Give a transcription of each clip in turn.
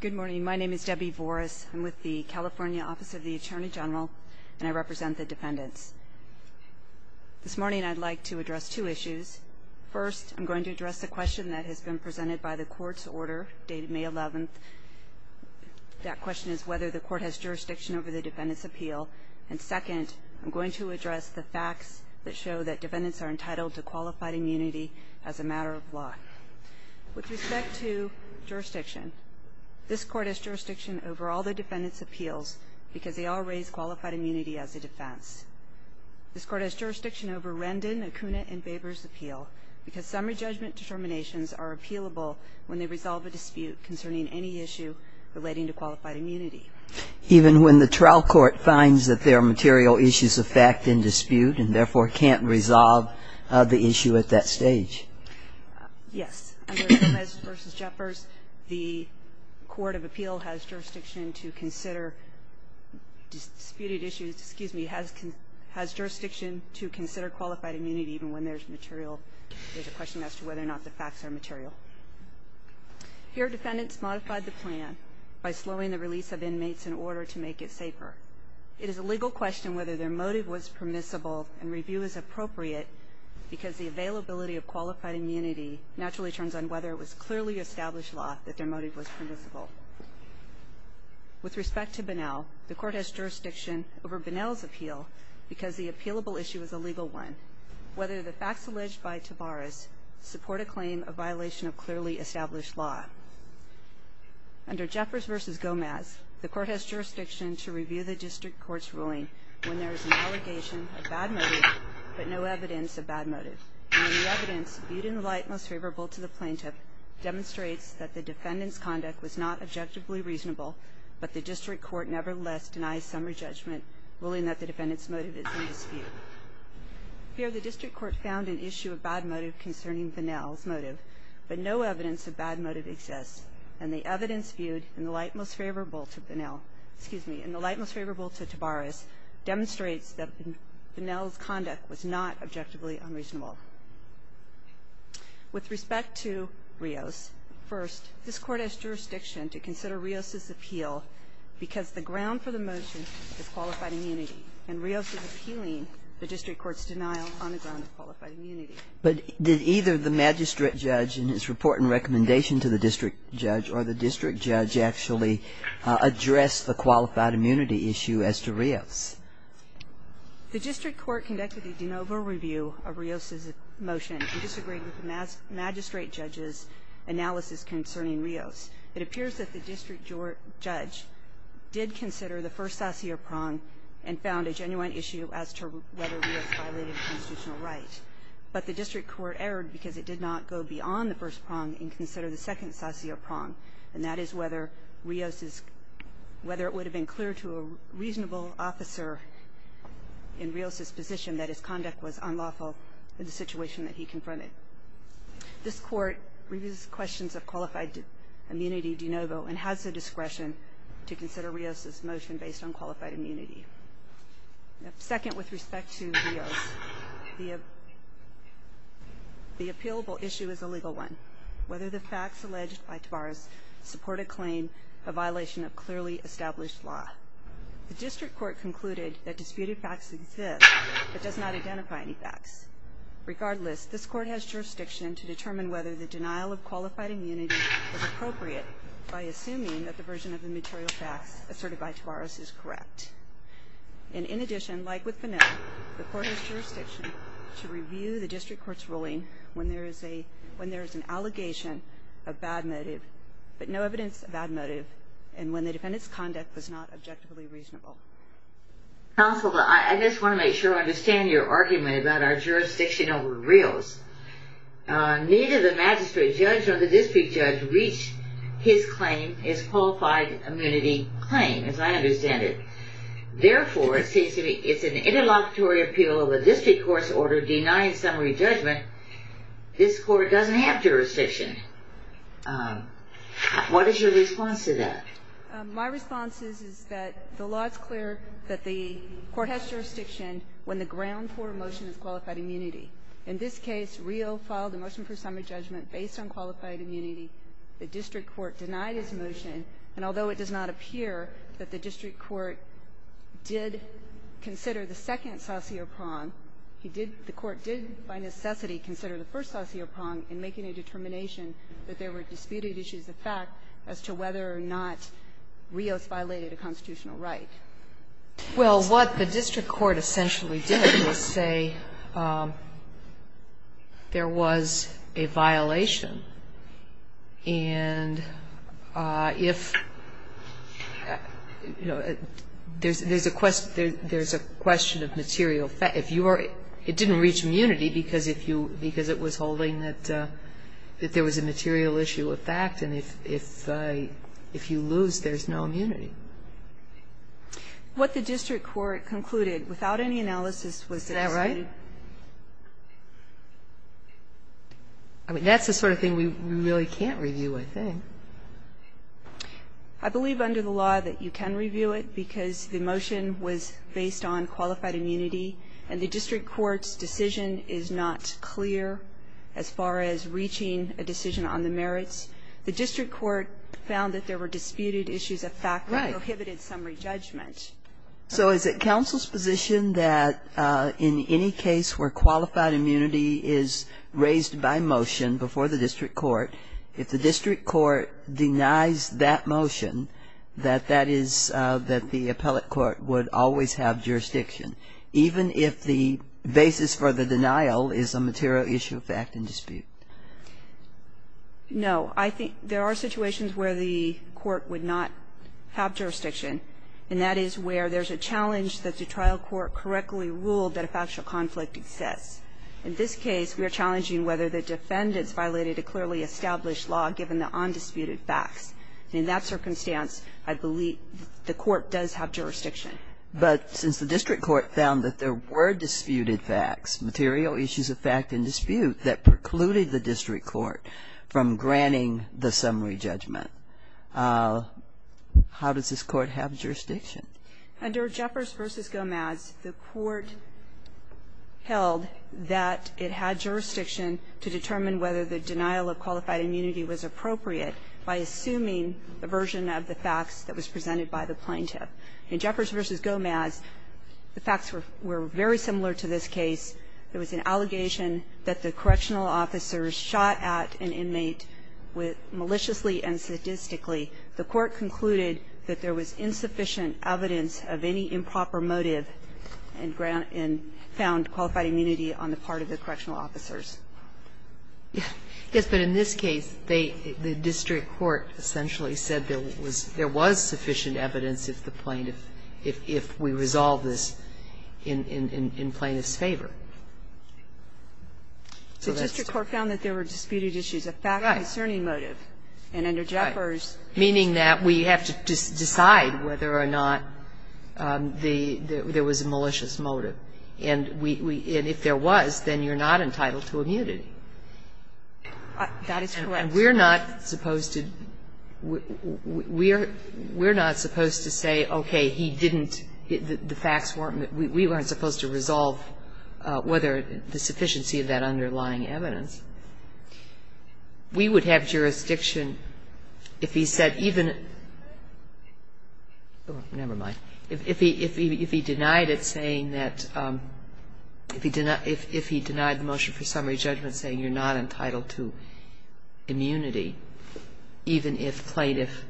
Good morning, my name is Debbie Boris. I'm with the California Office of the Attorney General and I represent the defendants This morning I'd like to address two issues First I'm going to address the question that has been presented by the court's order dated May 11th That question is whether the court has jurisdiction over the defendants appeal and second I'm going to address the facts that show that defendants are entitled to qualified immunity as a matter of law with respect to Jurisdiction this court has jurisdiction over all the defendants appeals because they all raise qualified immunity as a defense This court has jurisdiction over Rendon Akuna and Babers appeal because summary judgment Determinations are appealable when they resolve a dispute concerning any issue relating to qualified immunity Even when the trial court finds that there are material issues of fact in dispute and therefore can't resolve the issue at that stage Yes Versus Jeffers the Court of Appeal has jurisdiction to consider Disputed issues, excuse me has can has jurisdiction to consider qualified immunity even when there's material There's a question as to whether or not the facts are material Here defendants modified the plan by slowing the release of inmates in order to make it safer It is a legal question whether their motive was permissible and review is appropriate Because the availability of qualified immunity naturally turns on whether it was clearly established law that their motive was permissible With respect to banal the court has jurisdiction over banals appeal because the appealable issue is a legal one Whether the facts alleged by Tavares support a claim a violation of clearly established law Under Jeffers versus Gomez the court has jurisdiction to review the district courts ruling When there is an allegation of bad motive, but no evidence of bad motive And the evidence viewed in the light most favorable to the plaintiff Demonstrates that the defendants conduct was not objectively reasonable, but the district court nevertheless denies summary judgment Willing that the defendants motive is in dispute Here the district court found an issue of bad motive concerning banals motive But no evidence of bad motive exists and the evidence viewed in the light most favorable to banal Excuse me in the light most favorable to Tavares demonstrates that the Nels conduct was not objectively unreasonable With respect to Rios first this court has jurisdiction to consider Rios's appeal Because the ground for the motion is qualified immunity and Rios is appealing the district courts denial on the ground But did either the magistrate judge in his report and recommendation to the district judge or the district judge actually? Address the qualified immunity issue as to Rios The district court conducted the de novo review of Rios's motion and disagreed with the mass magistrate judges Analysis concerning Rios it appears that the district your judge Did consider the first sassier prong and found a genuine issue as to whether Rios violated constitutional right? But the district court erred because it did not go beyond the first prong and consider the second sassier prong and that is whether Rios's Whether it would have been clear to a reasonable officer In Rios's position that his conduct was unlawful in the situation that he confronted This court reviews questions of qualified immunity de novo and has the discretion to consider Rios's motion based on qualified immunity Second with respect to Whether the facts alleged by Tavares support a claim a violation of clearly established law The district court concluded that disputed facts exist, but does not identify any facts Regardless this court has jurisdiction to determine whether the denial of qualified immunity Appropriate by assuming that the version of the material facts asserted by Tavares is correct and in addition like with the Jurisdiction to review the district court's ruling when there is a when there is an allegation of bad motive But no evidence of bad motive and when the defendants conduct was not objectively reasonable Counselor, I just want to make sure I understand your argument about our jurisdiction over Rios Neither the magistrate judge or the district judge reached his claim is qualified immunity claim as I understand it Therefore it seems to be it's an interlocutory appeal of a district court's order denying summary judgment This court doesn't have jurisdiction What is your response to that My response is is that the law is clear that the court has jurisdiction When the ground for motion is qualified immunity in this case Rio filed a motion for summary judgment based on qualified immunity The district court denied his motion and although it does not appear that the district court did Consider the second saucier prong He did the court did by necessity consider the first saucier prong in making a determination That there were disputed issues of fact as to whether or not Rios violated a constitutional right Well what the district court essentially did was say There was a violation and If You know There's there's a question there's a question of material fact if you are it didn't reach immunity because if you because it was holding that That there was a material issue of fact and if if if you lose there's no immunity What the district court concluded without any analysis was that right I Mean that's the sort of thing. We really can't review I think I Believe under the law that you can review it because the motion was based on qualified immunity and the district courts Decision is not clear as far as reaching a decision on the merits The district court found that there were disputed issues of fact right inhibited summary judgment so is it council's position that in any case where qualified immunity is Raised by motion before the district court if the district court denies that motion that that is that the appellate court would always have jurisdiction even if the Basis for the denial is a material issue of fact and dispute No, I think there are situations where the court would not have jurisdiction And that is where there's a challenge that the trial court correctly ruled that a factual conflict exists in this case We are challenging whether the defendants violated a clearly established law given the undisputed facts in that circumstance I believe the court does have jurisdiction But since the district court found that there were disputed facts material issues of fact and dispute that precluded the district court from granting the summary judgment How does this court have jurisdiction under Jeffers versus Gomez the court Held that it had jurisdiction to determine whether the denial of qualified immunity was appropriate By assuming the version of the facts that was presented by the plaintiff in Jeffers versus Gomez The facts were very similar to this case There was an allegation that the correctional officers shot at an inmate with maliciously and sadistically the court concluded that there was insufficient evidence of any improper motive and found qualified immunity on the part of the correctional officers Yes, but in this case they the district court essentially said there was there was sufficient evidence if the plaintiff if We resolve this in plaintiff's favor So that's the court found that there were disputed issues a fact concerning motive and under Jeffers meaning that we have to decide whether or not The there was a malicious motive and we and if there was then you're not entitled to a mutiny That is correct. We're not supposed to We're we're not supposed to say, okay, he didn't the facts weren't we weren't supposed to resolve Whether the sufficiency of that underlying evidence We would have jurisdiction if he said even Oh, never mind if he if he denied it saying that if he did not if if he denied the motion for summary judgment saying you're not entitled to immunity even if plaintiff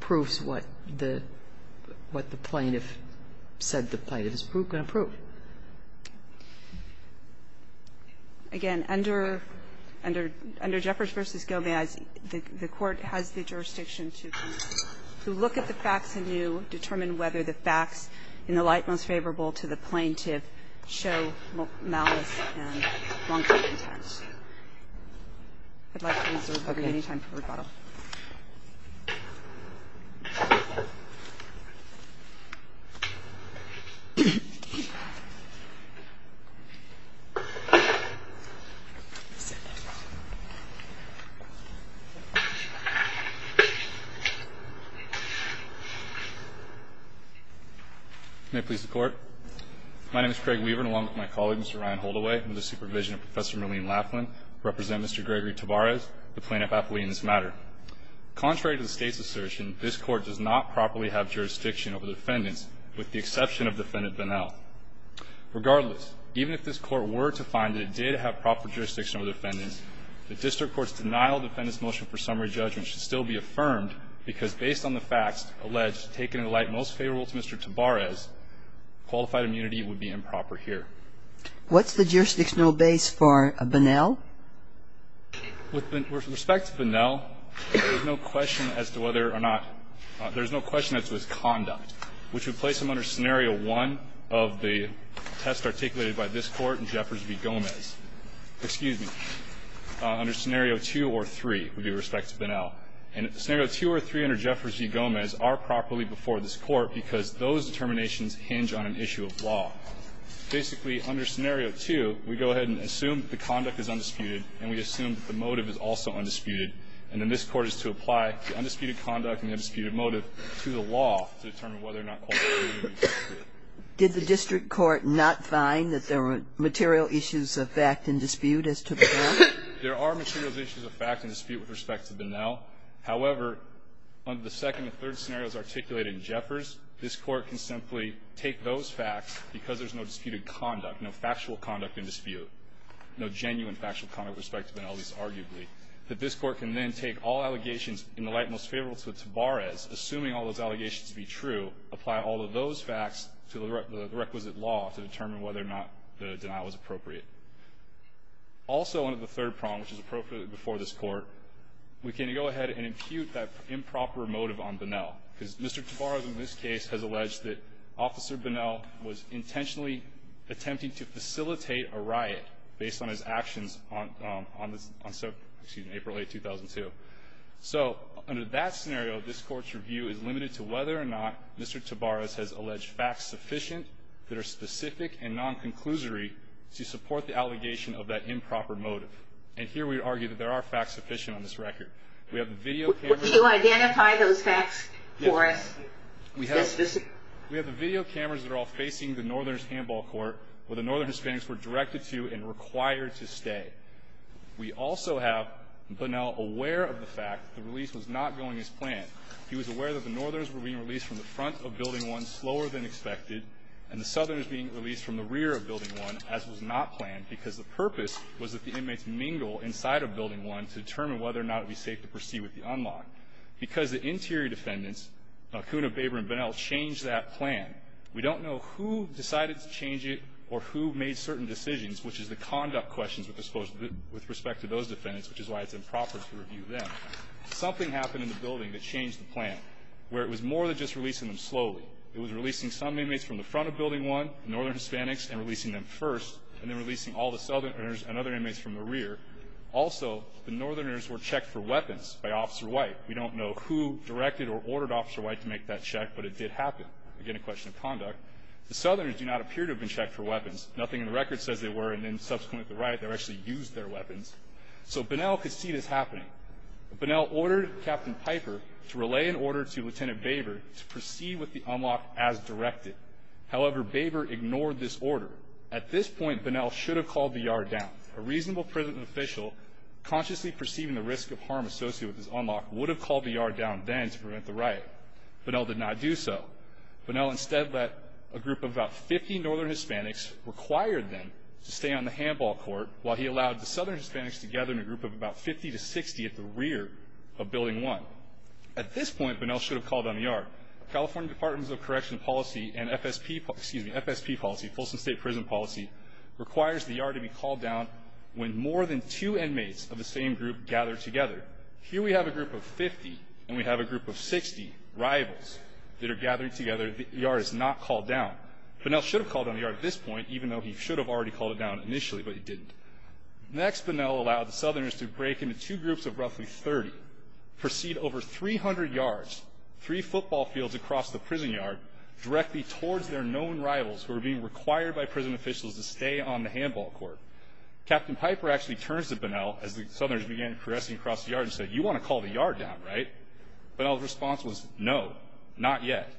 Proves what the what the plaintiff said the plaintiff is broken approved Again Under under under Jeffers versus go may I see the court has the jurisdiction to To look at the facts and you determine whether the facts in the light most favorable to the plaintiff show You May please the court My name is Craig Weaver and along with my colleague. Mr. Ryan hold away. I'm the supervision of professor Marlene Laughlin represent. Mr Gregory Tabar is the plaintiff appellee in this matter Contrary to the state's assertion. This court does not properly have jurisdiction over the defendants with the exception of defendant vanell Regardless even if this court were to find it did have proper jurisdiction over defendants The district courts denial defendants motion for summary judgment should still be affirmed because based on the facts alleged taken in light most favorable to mr. Tabar as Qualified immunity would be improper here. What's the jurisdictional base for a banal? With respect to banal No question as to whether or not There's no question that's with conduct which would place them under scenario one of the test articulated by this court in Jeffers v Gomez Excuse me under scenario two or three with respect to banal and Scenario two or three under Jeffers v. Gomez are properly before this court because those determinations hinge on an issue of law Basically under scenario two we go ahead and assume the conduct is undisputed and we assume the motive is also Undisputed and then this court is to apply the undisputed conduct and the disputed motive to the law Did the district court not find that there were material issues of fact and dispute as to There are materials issues of fact and dispute with respect to banal However, under the second the third scenario is articulated in Jeffers This court can simply take those facts because there's no disputed conduct. No factual conduct in dispute No, genuine factual conduct respect to penalties arguably that this court can then take all allegations in the light most favorable to Tabar as assuming All those allegations to be true apply all of those facts to the requisite law to determine whether or not the denial is appropriate Also one of the third prong which is appropriately before this court We can go ahead and impute that improper motive on banal because mr. Tabar is in this case has alleged that officer banal was intentionally Attempting to facilitate a riot based on his actions on on this on so, excuse me, April a 2002 So under that scenario this court's review is limited to whether or not. Mr Tabar as has alleged facts sufficient that are specific and non-conclusory to support the allegation of that improper motive and Here we argue that there are facts sufficient on this record. We have the video identify those facts for us We have the video cameras that are all facing the northerners handball court where the northern hispanics were directed to and required to stay We also have but now aware of the fact the release was not going as planned he was aware that the northerners were being released from the front of building one slower than expected and the Southerners being released from the rear of building one as was not planned because the purpose was that the inmates Mingle inside of building one to determine whether or not it'd be safe to proceed with the unlock Because the interior defendants Hakuna, baber and banal changed that plan We don't know who decided to change it or who made certain decisions Which is the conduct questions with this pose with respect to those defendants, which is why it's improper to review them Something happened in the building that changed the plan where it was more than just releasing them slowly It was releasing some inmates from the front of building one Northern Hispanics and releasing them first and then releasing all the southerners and other inmates from the rear Also, the northerners were checked for weapons by officer white We don't know who directed or ordered officer white to make that check But it did happen again a question of conduct The southerners do not appear to have been checked for weapons. Nothing in the record says they were and then subsequently right They're actually used their weapons So banal could see this happening Banal ordered captain piper to relay an order to lieutenant baber to proceed with the unlock as directed However, baber ignored this order at this point banal should have called the yard down a reasonable prison official Consciously perceiving the risk of harm associated with this unlock would have called the yard down then to prevent the right But I'll did not do so But now instead that a group of about 50 northern Hispanics Required them to stay on the handball court while he allowed the southern Hispanics together in a group of about 50 to 60 at the rear of building one at this point banal should have called on the yard California Departments of Correction policy and FSP excuse me FSP policy Folsom State Prison policy Requires the yard to be called down when more than two inmates of the same group gather together Here we have a group of 50 and we have a group of 60 Rivals that are gathering together the yard is not called down But now should have called on the yard at this point, even though he should have already called it down initially, but he didn't Next banal allowed the southerners to break into two groups of roughly 30 Proceed over 300 yards three football fields across the prison yard Directly towards their known rivals who are being required by prison officials to stay on the handball court Captain Piper actually turns to banal as the southerners began caressing across the yard and said you want to call the yard down, right? But all the response was no not yet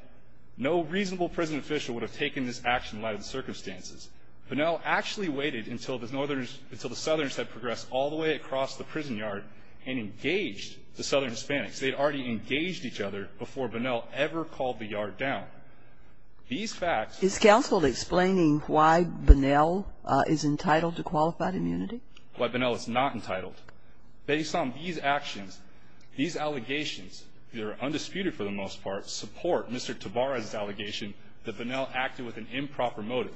No reasonable prison official would have taken this action lighted circumstances But now actually waited until the northerners until the southerners had progressed all the way across the prison yard and engaged the southern Hispanics They'd already engaged each other before banal ever called the yard down These facts is counsel explaining why banal is entitled to qualified immunity But banal is not entitled based on these actions these allegations. They're undisputed for the most part support Mr. Tabara's allegation that banal acted with an improper motive.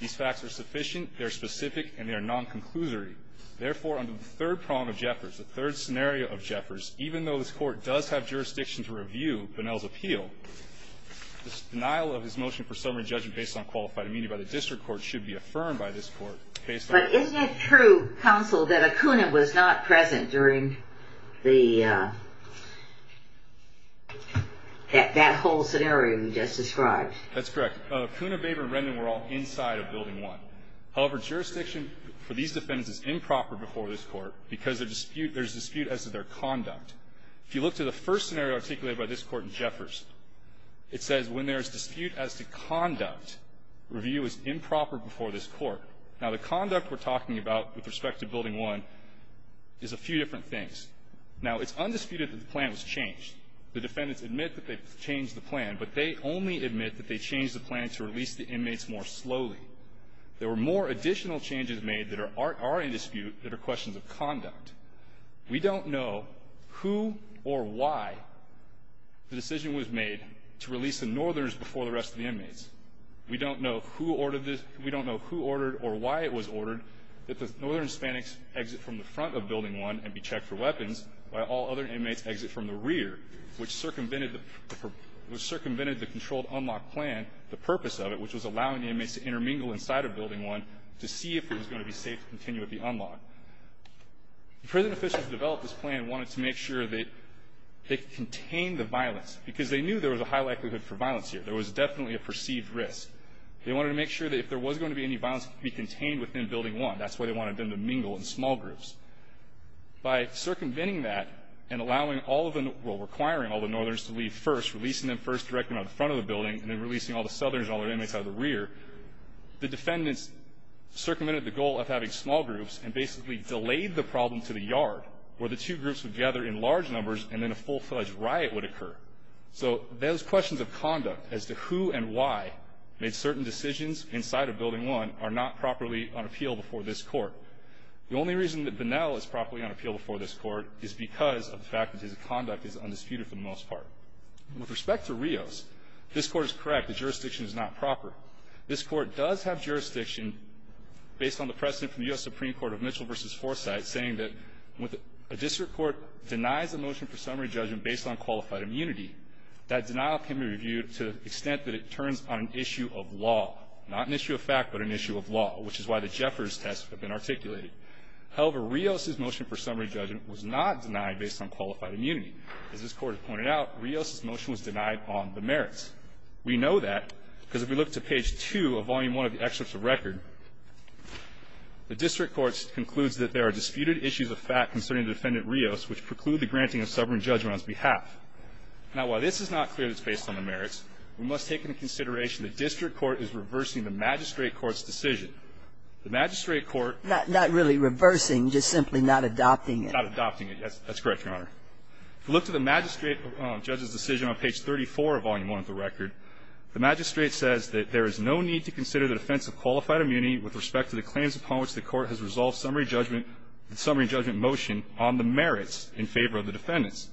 These facts are sufficient. They're specific and they're non-conclusory Therefore under the third prong of Jeffers the third scenario of Jeffers, even though this court does have jurisdiction to review banal's appeal This denial of his motion for summary judgment based on qualified immunity by the district court should be affirmed by this court okay, but isn't it true counsel that a Coonan was not present during the That Whole scenario we just described that's correct Coonababer and Rendon were all inside of building one However jurisdiction for these defendants is improper before this court because their dispute there's dispute as to their conduct If you look to the first scenario articulated by this court in Jeffers It says when there is dispute as to conduct Review is improper before this court. Now the conduct we're talking about with respect to building one Is a few different things now, it's undisputed that the plan was changed the defendants admit that they've changed the plan But they only admit that they changed the plan to release the inmates more slowly There were more additional changes made that are already dispute that are questions of conduct We don't know who or why? The decision was made to release the northerners before the rest of the inmates We don't know who ordered this We don't know who ordered or why it was ordered that the northern Hispanics Exit from the front of building one and be checked for weapons while all other inmates exit from the rear which circumvented the Was circumvented the controlled unlock plan the purpose of it Which was allowing the inmates to intermingle inside of building one to see if it was going to be safe to continue at the unlock prison officials develop this plan wanted to make sure that They contain the violence because they knew there was a high likelihood for violence here There was definitely a perceived risk They wanted to make sure that if there was going to be any violence to be contained within building one That's why they wanted them to mingle in small groups By circumventing that and allowing all of them Requiring all the northerners to leave first releasing them first direct them out the front of the building and then releasing all the southerners all their inmates out of the rear the defendants Circumvented the goal of having small groups and basically delayed the problem to the yard Where the two groups would gather in large numbers and then a full-fledged riot would occur So those questions of conduct as to who and why Made certain decisions inside of building one are not properly on appeal before this court The only reason that the now is properly on appeal before this court is because of the fact that his conduct is undisputed for the Most part with respect to Rios. This court is correct. The jurisdiction is not proper. This court does have jurisdiction based on the precedent from the US Supreme Court of Mitchell vs Saying that with a district court denies the motion for summary judgment based on qualified immunity That denial can be reviewed to the extent that it turns on an issue of law Not an issue of fact, but an issue of law, which is why the Jeffers test have been articulated However, Rios's motion for summary judgment was not denied based on qualified immunity as this court pointed out Rios's motion was denied on the merits We know that because if we look to page 2 of volume 1 of the excerpts of record The district courts concludes that there are disputed issues of fact concerning the defendant Rios, which preclude the granting of summary judgment on his behalf Now while this is not clear that it's based on the merits We must take into consideration the district court is reversing the magistrate court's decision The magistrate court not not really reversing just simply not adopting it not adopting it. Yes, that's correct, Your Honor Look to the magistrate judge's decision on page 34 of volume 1 of the record The magistrate says that there is no need to consider the defense of qualified immunity with respect to the claims upon which the court has Resolved summary judgment the summary judgment motion on the merits in favor of the defendants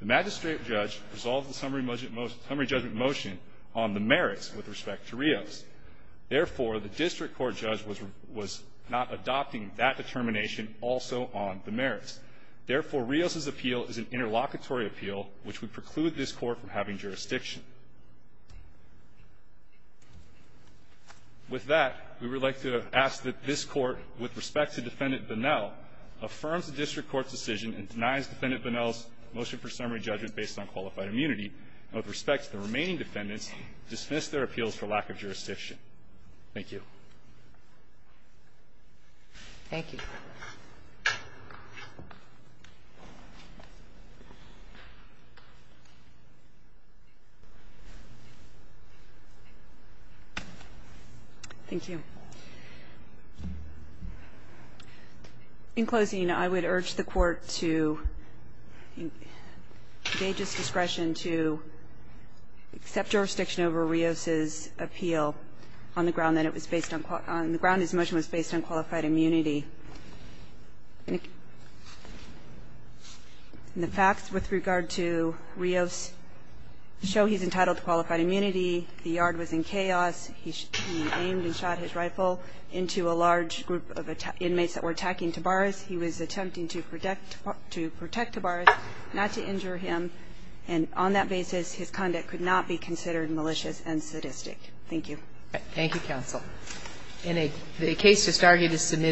The magistrate judge resolves the summary motion most summary judgment motion on the merits with respect to Rios Therefore the district court judge was was not adopting that determination also on the merits Therefore Rios's appeal is an interlocutory appeal, which would preclude this court from having jurisdiction With That we would like to ask that this court with respect to defendant Bunnell Affirms the district court's decision and denies defendant Bunnell's motion for summary judgment based on qualified immunity And with respect to the remaining defendants dismiss their appeals for lack of jurisdiction. Thank you Thank you In closing, you know, I would urge the court to They just discretion to Accept jurisdiction over Rios's appeal on the ground that it was based on caught on the ground. His motion was based on qualified immunity The facts with regard to Rios show he's entitled to a majority of the court's decision The yard was in chaos Into a large group of inmates that were attacking to bars He was attempting to protect to protect the bars not to injure him and on that basis His conduct could not be considered malicious and sadistic. Thank you. Thank you counsel in a case to start you to submit